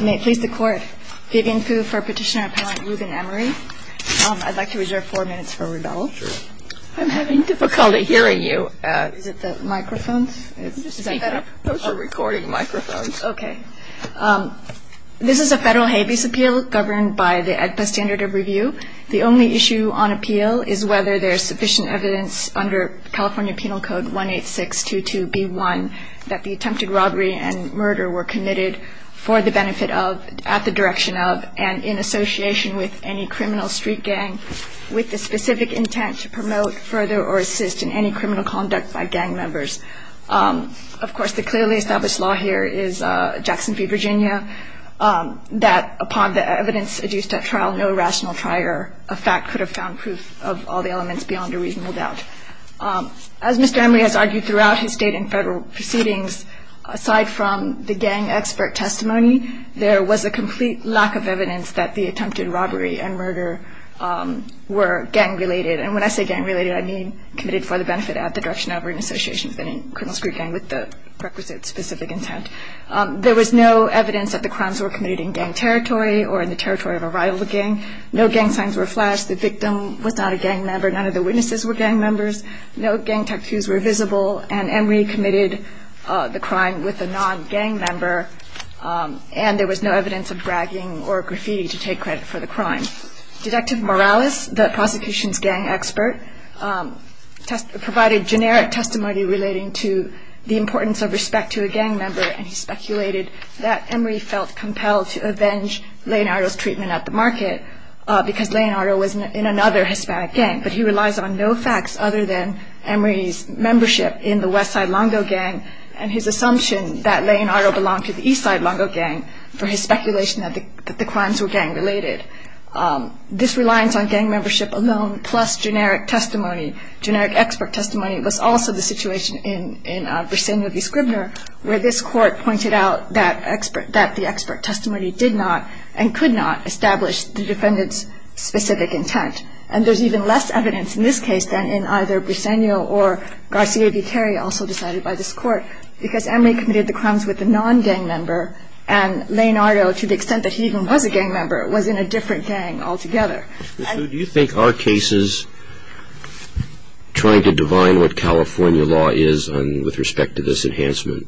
May it please the Court. Vivian Fu for Petitioner Appellant Ruben Emery. I'd like to reserve four minutes for rebuttal. I'm having difficulty hearing you. Is it the microphones? Just speak up. Those are recording microphones. Okay. This is a federal habeas appeal governed by the AEDPA standard of review. The only issue on appeal is whether there is sufficient evidence under California Penal Code 18622B1 that the attempted robbery and murder were committed for the benefit of, at the direction of, and in association with any criminal street gang with the specific intent to promote, further, or assist in any criminal conduct by gang members. Of course, the clearly established law here is Jackson v. Virginia that upon the evidence adduced at trial, no rational trier of fact could have found proof of all the elements beyond a reasonable doubt. As Mr. Emery has argued throughout his state and federal proceedings, aside from the gang expert testimony, there was a complete lack of evidence that the attempted robbery and murder were gang-related. And when I say gang-related, I mean committed for the benefit, at the direction of, or in association with any criminal street gang with the requisite specific intent. There was no evidence that the crimes were committed in gang territory or in the territory of a rival gang. No gang signs were flashed. The victim was not a gang member. None of the witnesses were gang members. No gang tattoos were visible. And Emery committed the crime with a non-gang member, and there was no evidence of bragging or graffiti to take credit for the crime. Detective Morales, the prosecution's gang expert, provided generic testimony relating to the importance of respect to a gang member, and he speculated that Emery felt compelled to avenge Leonardo's treatment at the market because Leonardo was in another Hispanic gang, but he relies on no facts other than Emery's membership in the Westside Longo Gang and his assumption that Leonardo belonged to the Eastside Longo Gang for his speculation that the crimes were gang-related. This reliance on gang membership alone, plus generic testimony, generic expert testimony, was also the situation in Virginia v. Scribner, where this Court pointed out that the expert testimony did not and could not establish the defendant's specific intent. And there's even less evidence in this case than in either Briseno or Garcia v. Terry, also decided by this Court, because Emery committed the crimes with a non-gang member, and Leonardo, to the extent that he even was a gang member, was in a different gang altogether. Do you think our cases, trying to divine what California law is with respect to this enhancement,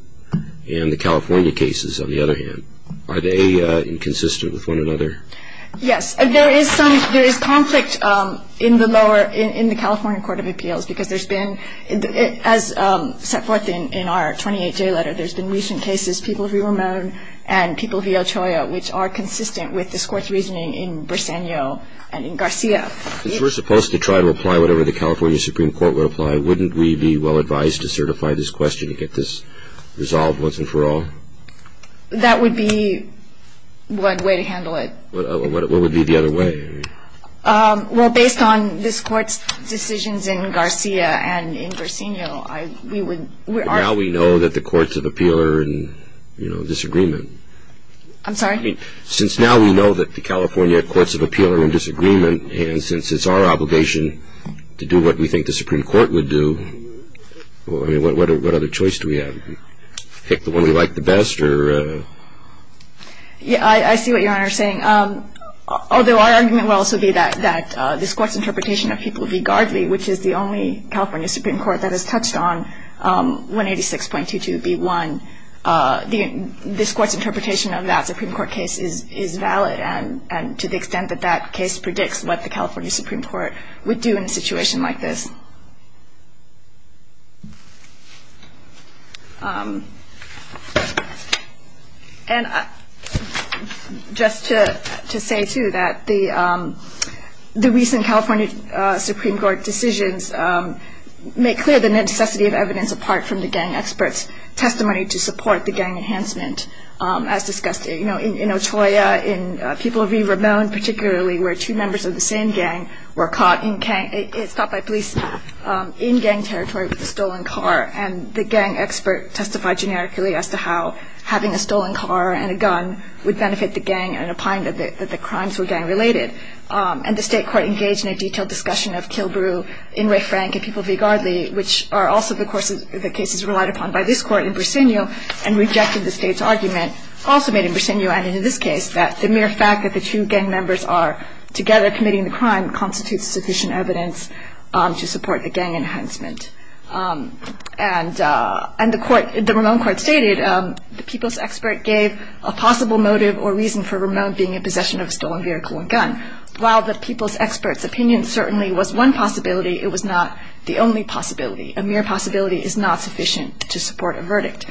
and the California cases, on the other hand, are they inconsistent with one another? Yes. There is conflict in the lower, in the California Court of Appeals, because there's been, as set forth in our 28-J letter, there's been recent cases, people V. Ramon and people V. Ochoa, which are consistent with this Court's reasoning in Briseno and in Garcia. If we're supposed to try to apply whatever the California Supreme Court would apply, wouldn't we be well-advised to certify this question and get this resolved once and for all? That would be one way to handle it. What would be the other way? Well, based on this Court's decisions in Garcia and in Briseno, we would, we are. Now we know that the courts of appeal are in, you know, disagreement. I'm sorry? I mean, since now we know that the California courts of appeal are in disagreement, and since it's our obligation to do what we think the Supreme Court would do, I mean, what other choice do we have? Pick the one we like the best, or? Yeah, I see what Your Honor is saying. Although our argument would also be that this Court's interpretation of people V. Gardley, which is the only California Supreme Court that has touched on 186.22b1, this Court's interpretation of that Supreme Court case is valid, and to the extent that that case predicts what the California Supreme Court would do in a situation like this. And just to say, too, that the recent California Supreme Court decisions make clear the necessity of evidence apart from the gang expert's testimony to support the gang enhancement. As discussed, you know, in Ochoa, in people V. Ramon particularly, where two members of the same gang were caught in gang, stopped by police in gang territory with a stolen car, and the gang expert testified generically as to how having a stolen car and a gun would benefit the gang and opine that the crimes were gang related. And the State Court engaged in a detailed discussion of Kilbrew, Inouye Frank, and people V. Gardley, which are also the cases relied upon by this Court in Bricenau, and rejected the State's argument, also made in Bricenau and in this case, that the mere fact that the two gang members are together committing the crime constitutes sufficient evidence to support the gang enhancement. And the Ramon Court stated the people's expert gave a possible motive or reason for Ramon being in possession of a stolen vehicle and gun. While the people's expert's opinion certainly was one possibility, it was not the only possibility. A mere possibility is not sufficient to support a verdict.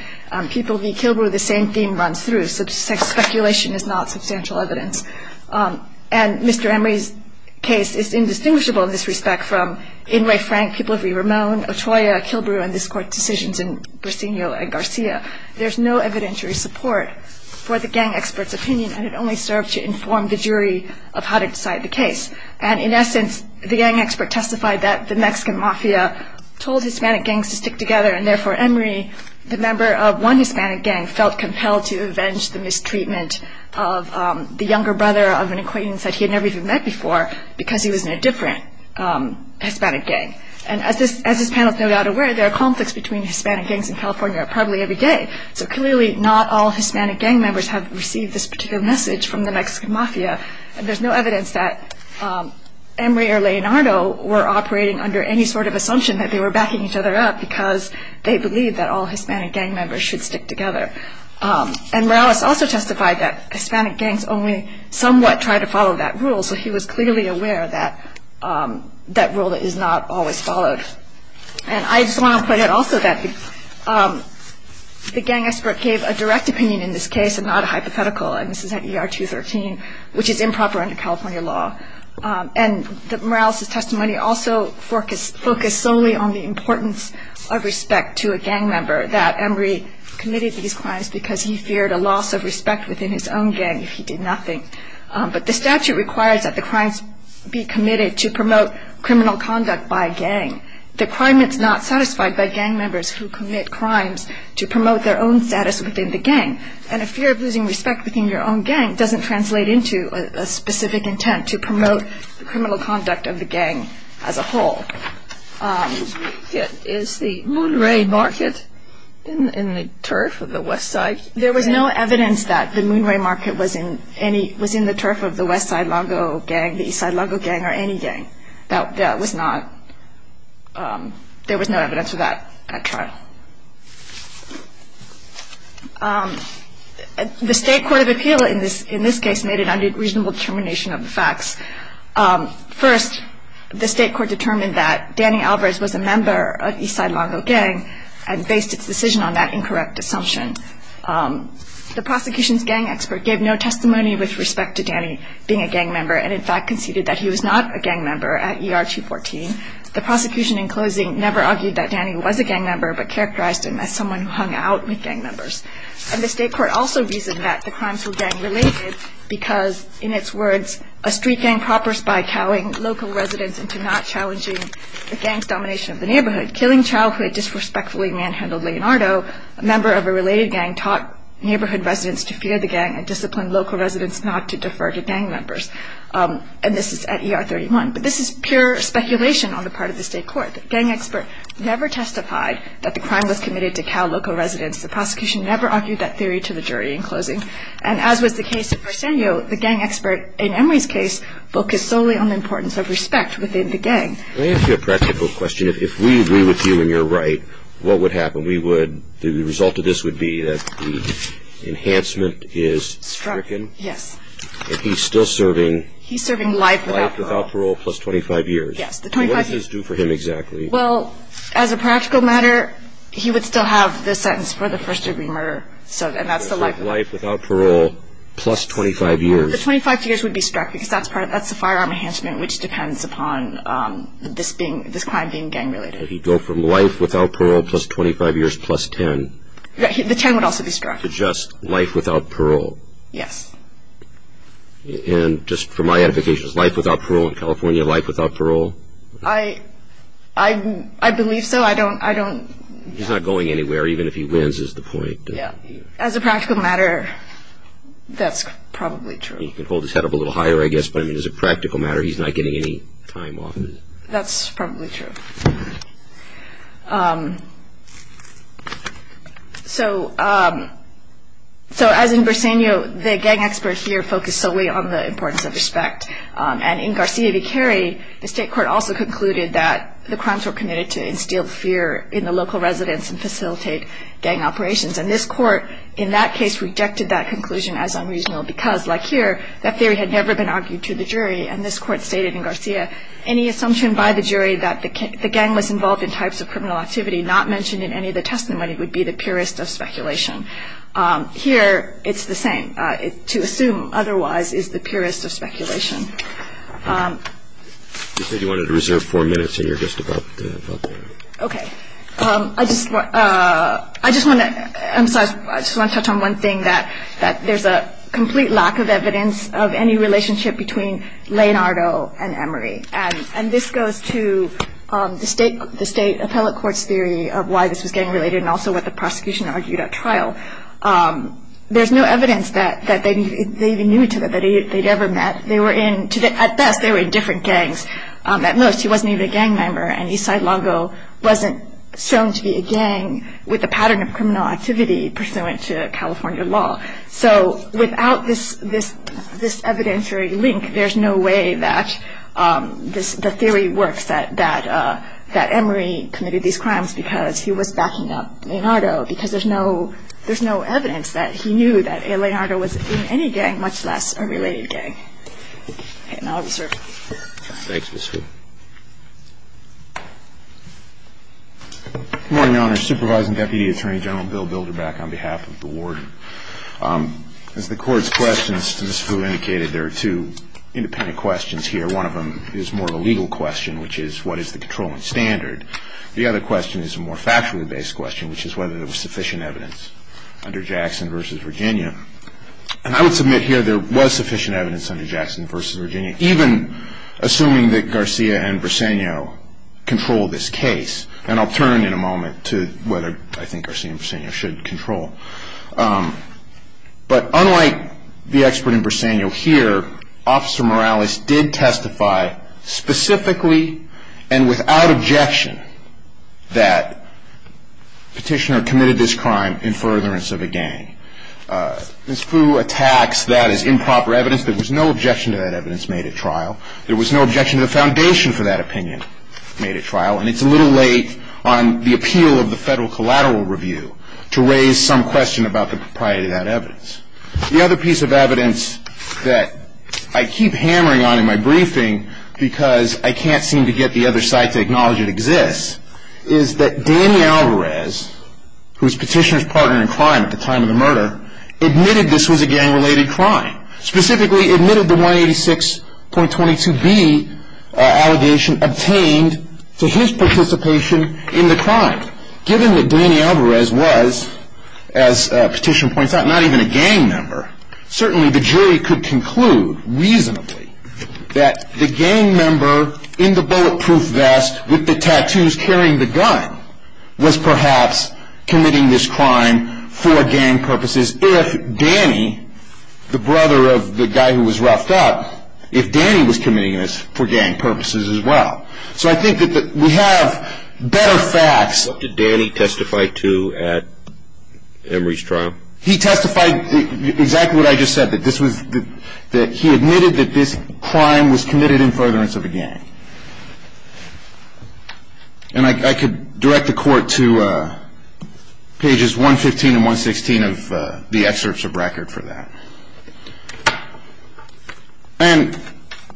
People V. Kilbrew, the same theme runs through. Speculation is not substantial evidence. And Mr. Inouye's case is indistinguishable in this respect from Inouye Frank, people V. Ramon, Ochoa, Kilbrew, and this Court's decisions in Bricenau and Garcia. There's no evidentiary support for the gang expert's opinion, and it only served to inform the jury of how to decide the case. And in essence, the gang expert testified that the Mexican mafia told Hispanic gangs to stick together, and therefore Emery, the member of one Hispanic gang, felt compelled to avenge the mistreatment of the younger brother of an acquaintance that he had never even met before because he was in a different Hispanic gang. And as this panel is no doubt aware, there are conflicts between Hispanic gangs in California probably every day. So clearly not all Hispanic gang members have received this particular message from the Mexican mafia, and there's no evidence that Emery or Leonardo were operating under any sort of assumption that they were backing each other up because they believed that all Hispanic gang members should stick together. And Morales also testified that Hispanic gangs only somewhat tried to follow that rule, so he was clearly aware that that rule is not always followed. And I just want to point out also that the gang expert gave a direct opinion in this case and not a hypothetical, and this is at ER 213, which is improper under California law. And Morales' testimony also focused solely on the importance of respect to a gang member, that Emery committed these crimes because he feared a loss of respect within his own gang if he did nothing. But the statute requires that the crimes be committed to promote criminal conduct by a gang. The crime is not satisfied by gang members who commit crimes to promote their own status within the gang, and a fear of losing respect within your own gang doesn't translate into a specific intent to promote the criminal conduct of the gang as a whole. Is the Moonray Market in the turf of the West Side? There was no evidence that the Moonray Market was in the turf of the West Side Longo Gang, the East Side Longo Gang, or any gang. There was no evidence for that trial. The State Court of Appeal in this case made an unreasonable determination of the facts. First, the State Court determined that Danny Alvarez was a member of East Side Longo Gang and based its decision on that incorrect assumption. The prosecution's gang expert gave no testimony with respect to Danny being a gang member and, in fact, conceded that he was not a gang member at ER 214. The prosecution, in closing, never argued that Danny was a gang member but characterized him as someone who hung out with gang members. And the State Court also reasoned that the crimes were gang-related because, in its words, a street gang propers by cowing local residents into not challenging the gang's domination of the neighborhood. Killing child who had disrespectfully manhandled Leonardo, a member of a related gang, taught neighborhood residents to fear the gang and disciplined local residents not to defer to gang members. And this is at ER 31. But this is pure speculation on the part of the State Court. The gang expert never testified that the crime was committed to cow local residents. The prosecution never argued that theory to the jury in closing. And as was the case of Arsenio, the gang expert, in Emory's case, focused solely on the importance of respect within the gang. Let me ask you a practical question. If we agree with you and you're right, what would happen? We would, the result of this would be that the enhancement is stricken. Yes. And he's still serving. He's serving life without parole. Life without parole plus 25 years. Yes, the 25 years. What does this do for him exactly? Well, as a practical matter, he would still have the sentence for the first-degree murder. Life without parole plus 25 years. The 25 years would be struck because that's the firearm enhancement, which depends upon this crime being gang-related. He'd go from life without parole plus 25 years plus 10. The 10 would also be struck. To just life without parole. Yes. And just for my edification, is life without parole in California life without parole? I believe so. He's not going anywhere, even if he wins is the point. As a practical matter, that's probably true. He can hold his head up a little higher, I guess, but as a practical matter, he's not getting any time off. That's probably true. So as in Briseño, the gang expert here focused solely on the importance of respect. And in Garcia v. Cary, the State Court also concluded that the crimes were committed to instill fear in the local residents and facilitate gang operations. And this Court, in that case, rejected that conclusion as unreasonable because, like here, that theory had never been argued to the jury. And this Court stated in Garcia, any assumption by the jury that the gang was involved in types of criminal activity not mentioned in any of the testimony would be the purest of speculation. Here, it's the same. To assume otherwise is the purest of speculation. You said you wanted to reserve four minutes, and you're just about there. Okay. I just want to touch on one thing, that there's a complete lack of evidence of any relationship between Leonardo and Emery. And this goes to the State Appellate Court's theory of why this was gang-related and also what the prosecution argued at trial. There's no evidence that they even knew each other, that they'd ever met. At best, they were in different gangs. At most, he wasn't even a gang member, and Eastside Longo wasn't shown to be a gang with a pattern of criminal activity pursuant to California law. So without this evidentiary link, there's no way that the theory works that Emery committed these crimes because he was backing up Leonardo because there's no evidence that he knew that Leonardo was in any gang, much less a related gang. And I'll reserve. Thanks, Ms. Fu. Good morning, Your Honor. Supervising Deputy Attorney General Bill Bilderback on behalf of the ward. As the Court's questions to Ms. Fu indicated, there are two independent questions here. One of them is more of a legal question, which is, what is the controlling standard? The other question is a more factually based question, which is whether there was sufficient evidence under Jackson v. Virginia. And I would submit here there was sufficient evidence under Jackson v. Virginia, even assuming that Garcia and Briseño controlled this case. And I'll turn in a moment to whether I think Garcia and Briseño should control. But unlike the expert in Briseño here, Officer Morales did testify specifically and without objection that Petitioner committed this crime in furtherance of a gang. Ms. Fu attacks that as improper evidence. There was no objection to that evidence made at trial. There was no objection to the foundation for that opinion made at trial. And it's a little late on the appeal of the Federal Collateral Review to raise some question about the propriety of that evidence. The other piece of evidence that I keep hammering on in my briefing because I can't seem to get the other side to acknowledge it exists, is that Danny Alvarez, who is Petitioner's partner in crime at the time of the murder, admitted this was a gang-related crime. Specifically admitted the 186.22b allegation obtained to his participation in the crime. Given that Danny Alvarez was, as Petitioner points out, not even a gang member, certainly the jury could conclude reasonably that the gang member in the bulletproof vest with the tattoos carrying the gun was perhaps committing this crime for gang purposes if Danny, the brother of the guy who was roughed up, if Danny was committing this for gang purposes as well. So I think that we have better facts. What did Danny testify to at Emory's trial? He testified exactly what I just said, that he admitted that this crime was committed in furtherance of a gang. And I could direct the court to pages 115 and 116 of the excerpts of record for that. And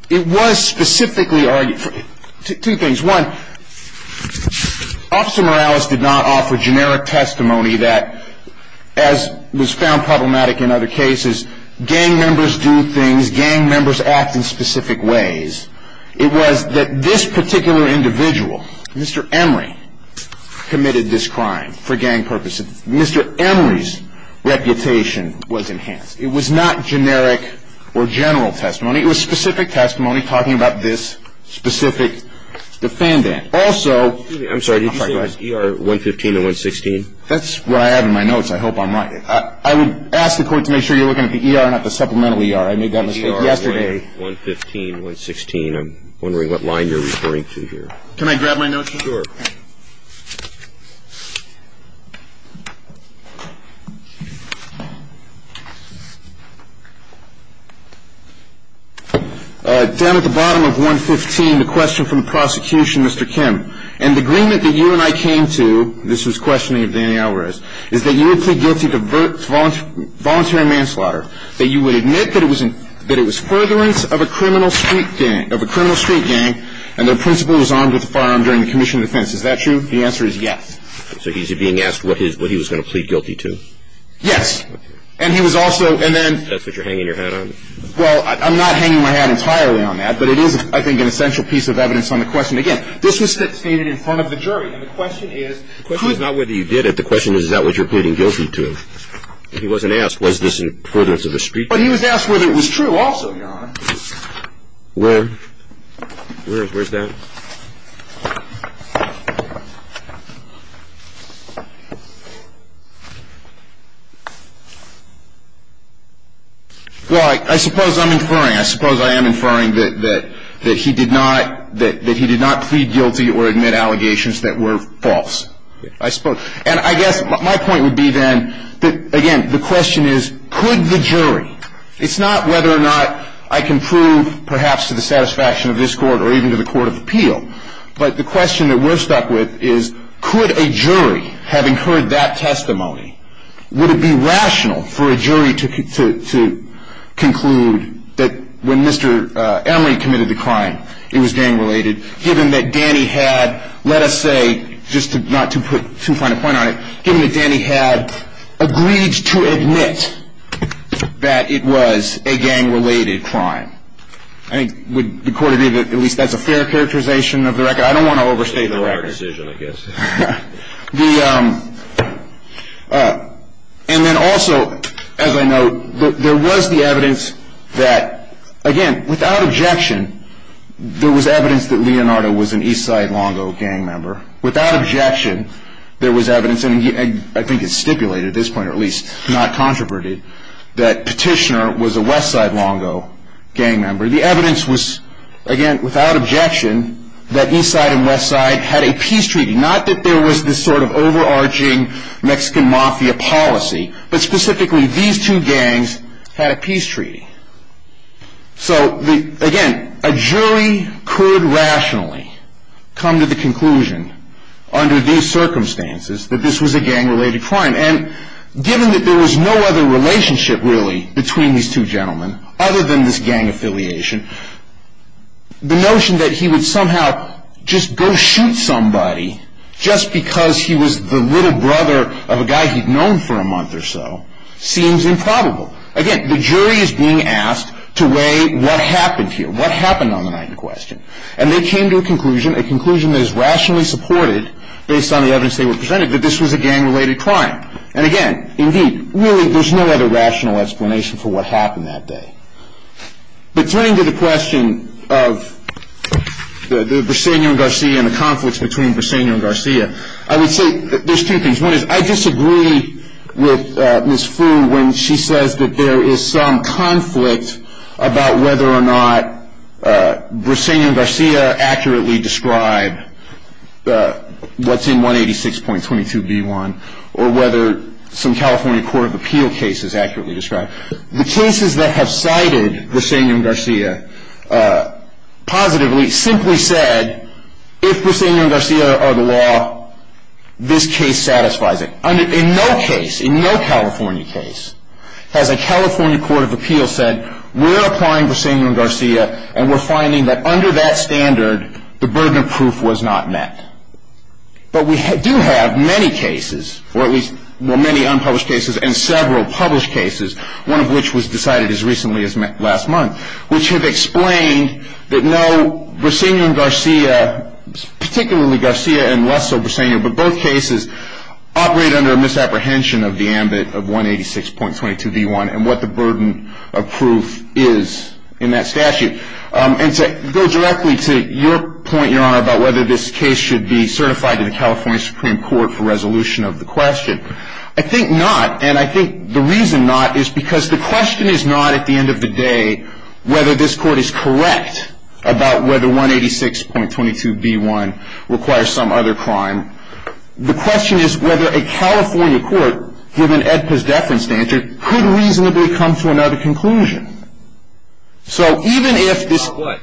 it was specifically argued for two things. One, Officer Morales did not offer generic testimony that, as was found problematic in other cases, gang members do things, gang members act in specific ways. It was that this particular individual, Mr. Emory, committed this crime for gang purposes. Mr. Emory's reputation was enhanced. It was not generic or general testimony. It was specific testimony talking about this specific defendant. Also, I'm sorry, did you say it was ER 115 and 116? That's what I have in my notes. I hope I'm right. I would ask the court to make sure you're looking at the ER, not the supplemental ER. I made that mistake yesterday. ER 115, 116. I'm wondering what line you're referring to here. Can I grab my notes? Sure. Down at the bottom of 115, the question from the prosecution, Mr. Kim. In the agreement that you and I came to, this was questioning of Danny Alvarez, is that you would plead guilty to voluntary manslaughter, that you would admit that it was furtherance of a criminal street gang and their principal was armed with a firearm during the commission of defense. Is that true? The answer is yes. So he's being asked what he was going to plead guilty to? Yes. And he was also, and then – That's what you're hanging your head on? Well, I'm not hanging my head entirely on that, but it is, I think, an essential piece of evidence on the question. Again, this was stated in front of the jury, and the question is – The question is not whether you did it. The question is, is that what you're pleading guilty to? If he wasn't asked, was this furtherance of a street gang? But he was asked whether it was true also, Your Honor. Where? Where is that? Well, I suppose I'm inferring, I suppose I am inferring that he did not plead guilty or admit allegations that were false. I suppose. And I guess my point would be then that, again, the question is, could the jury – it's not whether or not I can prove, perhaps to the satisfaction of this Court or even to the Court of Appeals, but the question that we're stuck with is, could a jury, having heard that testimony, would it be rational for a jury to conclude that when Mr. Emory committed the crime, it was gang-related, given that Danny had, let us say, just not to put too fine a point on it, given that Danny had agreed to admit that it was a gang-related crime? I think, would the Court agree that at least that's a fair characterization of the record? I don't want to overstate the record. It's a fair decision, I guess. And then also, as I note, there was the evidence that, again, without objection, there was evidence that Leonardo was an Eastside Longo gang member. Without objection, there was evidence, and I think it's stipulated at this point, or at least not controverted, that Petitioner was a Westside Longo gang member. The evidence was, again, without objection, that Eastside and Westside had a peace treaty. Not that there was this sort of overarching Mexican Mafia policy, but specifically, these two gangs had a peace treaty. So, again, a jury could rationally come to the conclusion, under these circumstances, that this was a gang-related crime. And given that there was no other relationship, really, between these two gentlemen, other than this gang affiliation, the notion that he would somehow just go shoot somebody just because he was the little brother of a guy he'd known for a month or so seems improbable. Again, the jury is being asked to weigh what happened here, what happened on the night in question. And they came to a conclusion, a conclusion that is rationally supported, based on the evidence they were presented, that this was a gang-related crime. And again, indeed, really, there's no other rational explanation for what happened that day. But turning to the question of the Briseño and Garcia and the conflicts between Briseño and Garcia, I would say that there's two things. One is I disagree with Ms. Fu when she says that there is some conflict about whether or not Briseño and Garcia accurately describe what's in 186.22b1 or whether some California Court of Appeal cases accurately describe. The cases that have cited Briseño and Garcia positively simply said if Briseño and Garcia are the law, this case satisfies it. In no case, in no California case has a California Court of Appeal said we're applying Briseño and Garcia and we're finding that under that standard the burden of proof was not met. But we do have many cases, or at least many unpublished cases and several published cases, one of which was decided as recently as last month, which have explained that no Briseño and Garcia, particularly Garcia and less so Briseño, but both cases operate under a misapprehension of the ambit of 186.22b1 and what the burden of proof is in that statute. And to go directly to your point, Your Honor, about whether this case should be certified to the California Supreme Court for resolution of the question, I think not, and I think the reason not is because the question is not at the end of the day whether this court is correct about whether 186.22b1 requires some other crime. The question is whether a California court, given AEDPA's deference standard, could reasonably come to another conclusion. So even if this is what?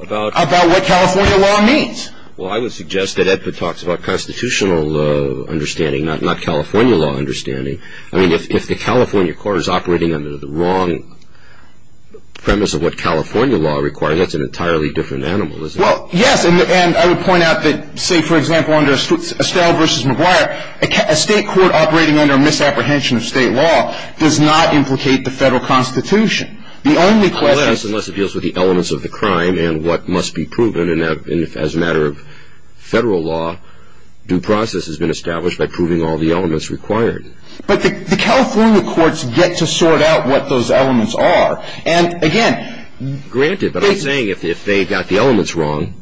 About what California law means. Well, I would suggest that AEDPA talks about constitutional understanding, not California law understanding. I mean, if the California court is operating under the wrong premise of what California law requires, that's an entirely different animal, isn't it? Well, yes, and I would point out that, say, for example, under Estelle v. McGuire, a state court operating under a misapprehension of state law does not implicate the federal constitution. The only question is... Unless it deals with the elements of the crime and what must be proven, and as a matter of federal law, due process has been established by proving all the elements required. But the California courts get to sort out what those elements are, and again... Granted, but I'm saying if they've got the elements wrong,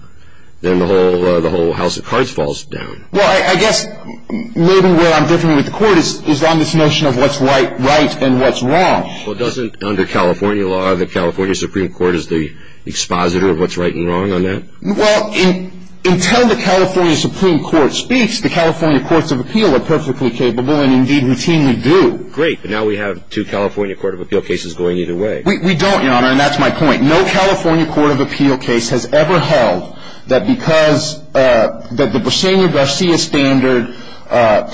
then the whole house of cards falls down. Well, I guess maybe where I'm different with the court is on this notion of what's right and what's wrong. Well, doesn't under California law, the California Supreme Court is the expositor of what's right and wrong on that? Well, until the California Supreme Court speaks, the California courts of appeal are perfectly capable, and indeed routinely do. Great, but now we have two California court of appeal cases going either way. We don't, Your Honor, and that's my point. No California court of appeal case has ever held that because the Briseño-Garcia standard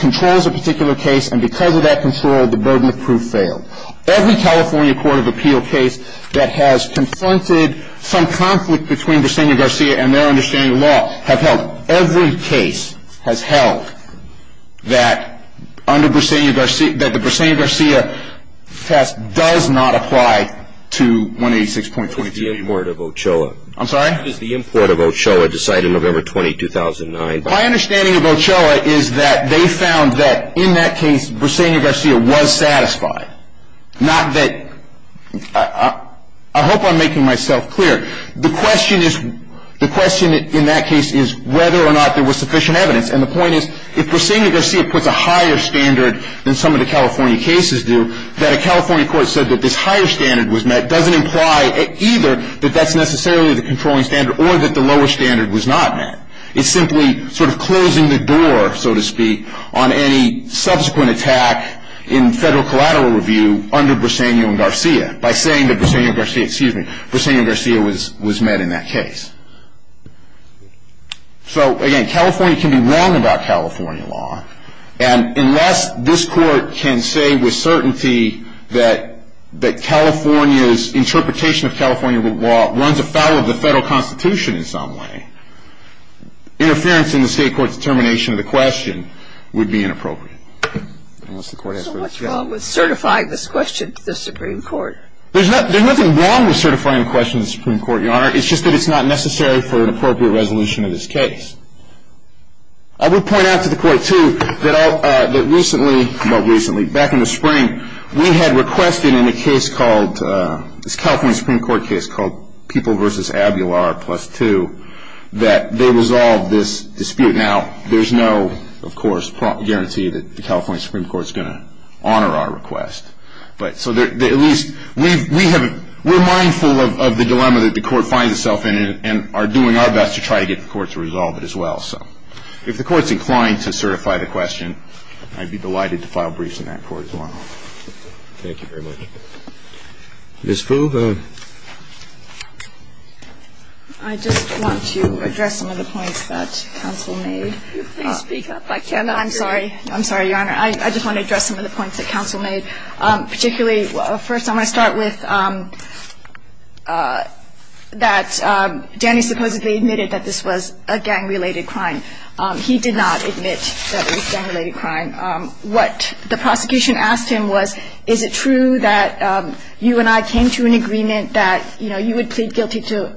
controls a particular case, and because of that control, the burden of proof failed. Every California court of appeal case that has confronted some conflict between Briseño-Garcia and their understanding of law, every case has held that the Briseño-Garcia test does not apply to 186.22. What is the import of Ochoa? I'm sorry? What does the import of Ochoa decide in November 20, 2009? My understanding of Ochoa is that they found that in that case, Briseño-Garcia was satisfied. I hope I'm making myself clear. The question in that case is whether or not there was sufficient evidence, and the point is if Briseño-Garcia puts a higher standard than some of the California cases do, that a California court said that this higher standard was met doesn't imply either that that's necessarily the controlling standard or that the lower standard was not met. It's simply sort of closing the door, so to speak, on any subsequent attack in federal collateral review under Briseño-Garcia. By saying that Briseño-Garcia was met in that case. So, again, California can be wrong about California law, and unless this court can say with certainty that California's interpretation of California law runs afoul of the federal constitution in some way, interference in the state court's determination of the question would be inappropriate. So much wrong with certifying this question to the Supreme Court. There's nothing wrong with certifying a question to the Supreme Court, Your Honor. It's just that it's not necessary for an appropriate resolution of this case. I would point out to the court, too, that recently, well, recently, back in the spring, we had requested in a case called, this California Supreme Court case called People v. Abular, plus two, that they resolve this dispute. Now, there's no, of course, guarantee that the California Supreme Court is going to honor our request. But so at least we have, we're mindful of the dilemma that the court finds itself in and are doing our best to try to get the court to resolve it as well. So if the court's inclined to certify the question, I'd be delighted to file briefs in that court as well. Thank you very much. Ms. Fu. I just want to address some of the points that counsel made. Can you please speak up? I cannot hear you. I'm sorry. I'm sorry, Your Honor. I just want to address some of the points that counsel made, particularly First, I'm going to start with that Danny supposedly admitted that this was a gang-related crime. He did not admit that it was a gang-related crime. What the prosecution asked him was, is it true that you and I came to an agreement that, you know, you would plead guilty to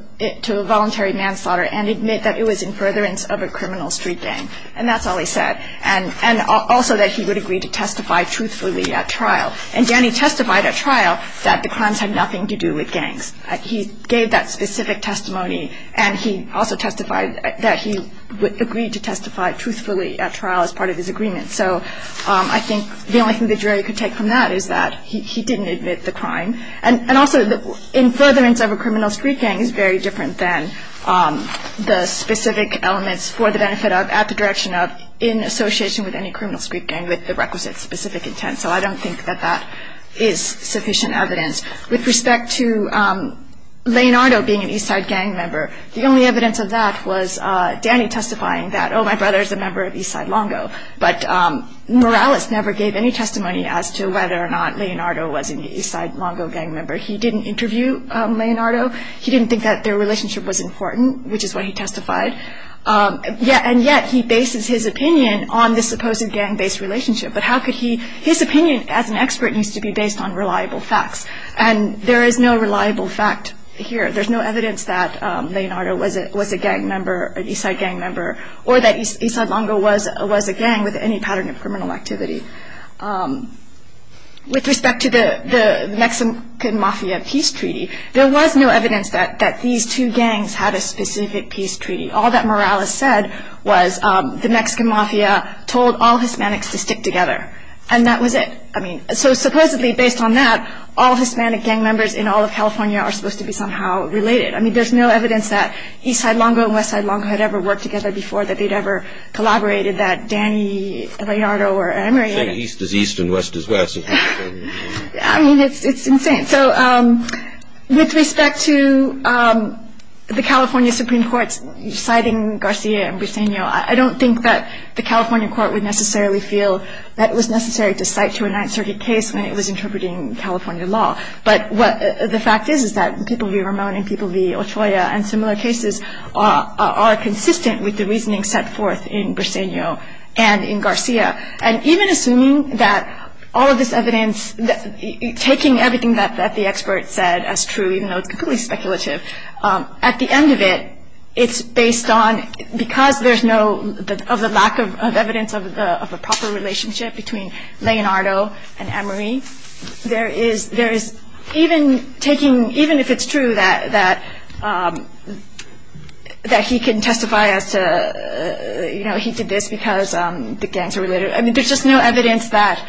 voluntary manslaughter and admit that it was in furtherance of a criminal street gang? And that's all he said. And also that he would agree to testify truthfully at trial. And Danny testified at trial that the crimes had nothing to do with gangs. He gave that specific testimony. And he also testified that he would agree to testify truthfully at trial as part of his agreement. So I think the only thing the jury could take from that is that he didn't admit the crime. And also in furtherance of a criminal street gang is very different than the specific elements for the benefit of, at the direction of, in association with any criminal street gang with the requisite specific intent. So I don't think that that is sufficient evidence. With respect to Leonardo being an Eastside gang member, the only evidence of that was Danny testifying that, oh, my brother is a member of Eastside Longo. But Morales never gave any testimony as to whether or not Leonardo was an Eastside Longo gang member. He didn't interview Leonardo. He didn't think that their relationship was important, which is what he testified. And yet he bases his opinion on this supposed gang-based relationship. But how could he? His opinion as an expert needs to be based on reliable facts. And there is no reliable fact here. There's no evidence that Leonardo was a gang member, an Eastside gang member, or that Eastside Longo was a gang with any pattern of criminal activity. With respect to the Mexican Mafia Peace Treaty, there was no evidence that these two gangs had a specific peace treaty. All that Morales said was the Mexican Mafia told all Hispanics to stick together. And that was it. So supposedly, based on that, all Hispanic gang members in all of California are supposed to be somehow related. I mean, there's no evidence that Eastside Longo and Westside Longo had ever worked together before, that they'd ever collaborated, that Danny, Leonardo, or Leonardo. East is east and west is west. I mean, it's insane. So with respect to the California Supreme Court citing Garcia and Briseño, I don't think that the California court would necessarily feel that it was necessary to cite to a Ninth Circuit case when it was interpreting California law. But what the fact is is that people v. Ramon and people v. Ochoa and similar cases are consistent with the reasoning set forth in Briseño and in Garcia. And even assuming that all of this evidence, taking everything that the expert said as true, even though it's completely speculative, at the end of it, it's based on, because there's no lack of evidence of a proper relationship between Leonardo and Emery, there is even taking, even if it's true that he can testify as to, you know, he did this because the gangs are related. I mean, there's just no evidence that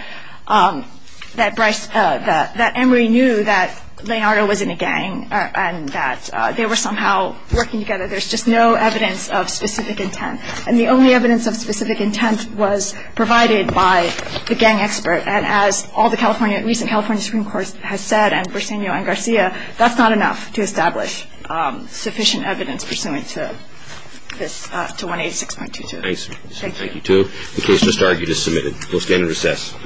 Emery knew that Leonardo was in a gang and that they were somehow working together. There's just no evidence of specific intent. And the only evidence of specific intent was provided by the gang expert. And as all the recent California Supreme Court has said and Briseño and Garcia, that's not enough to establish sufficient evidence pursuant to this, to 186.22. Thank you. Thank you, too. The case just argued is submitted. We'll stand in recess.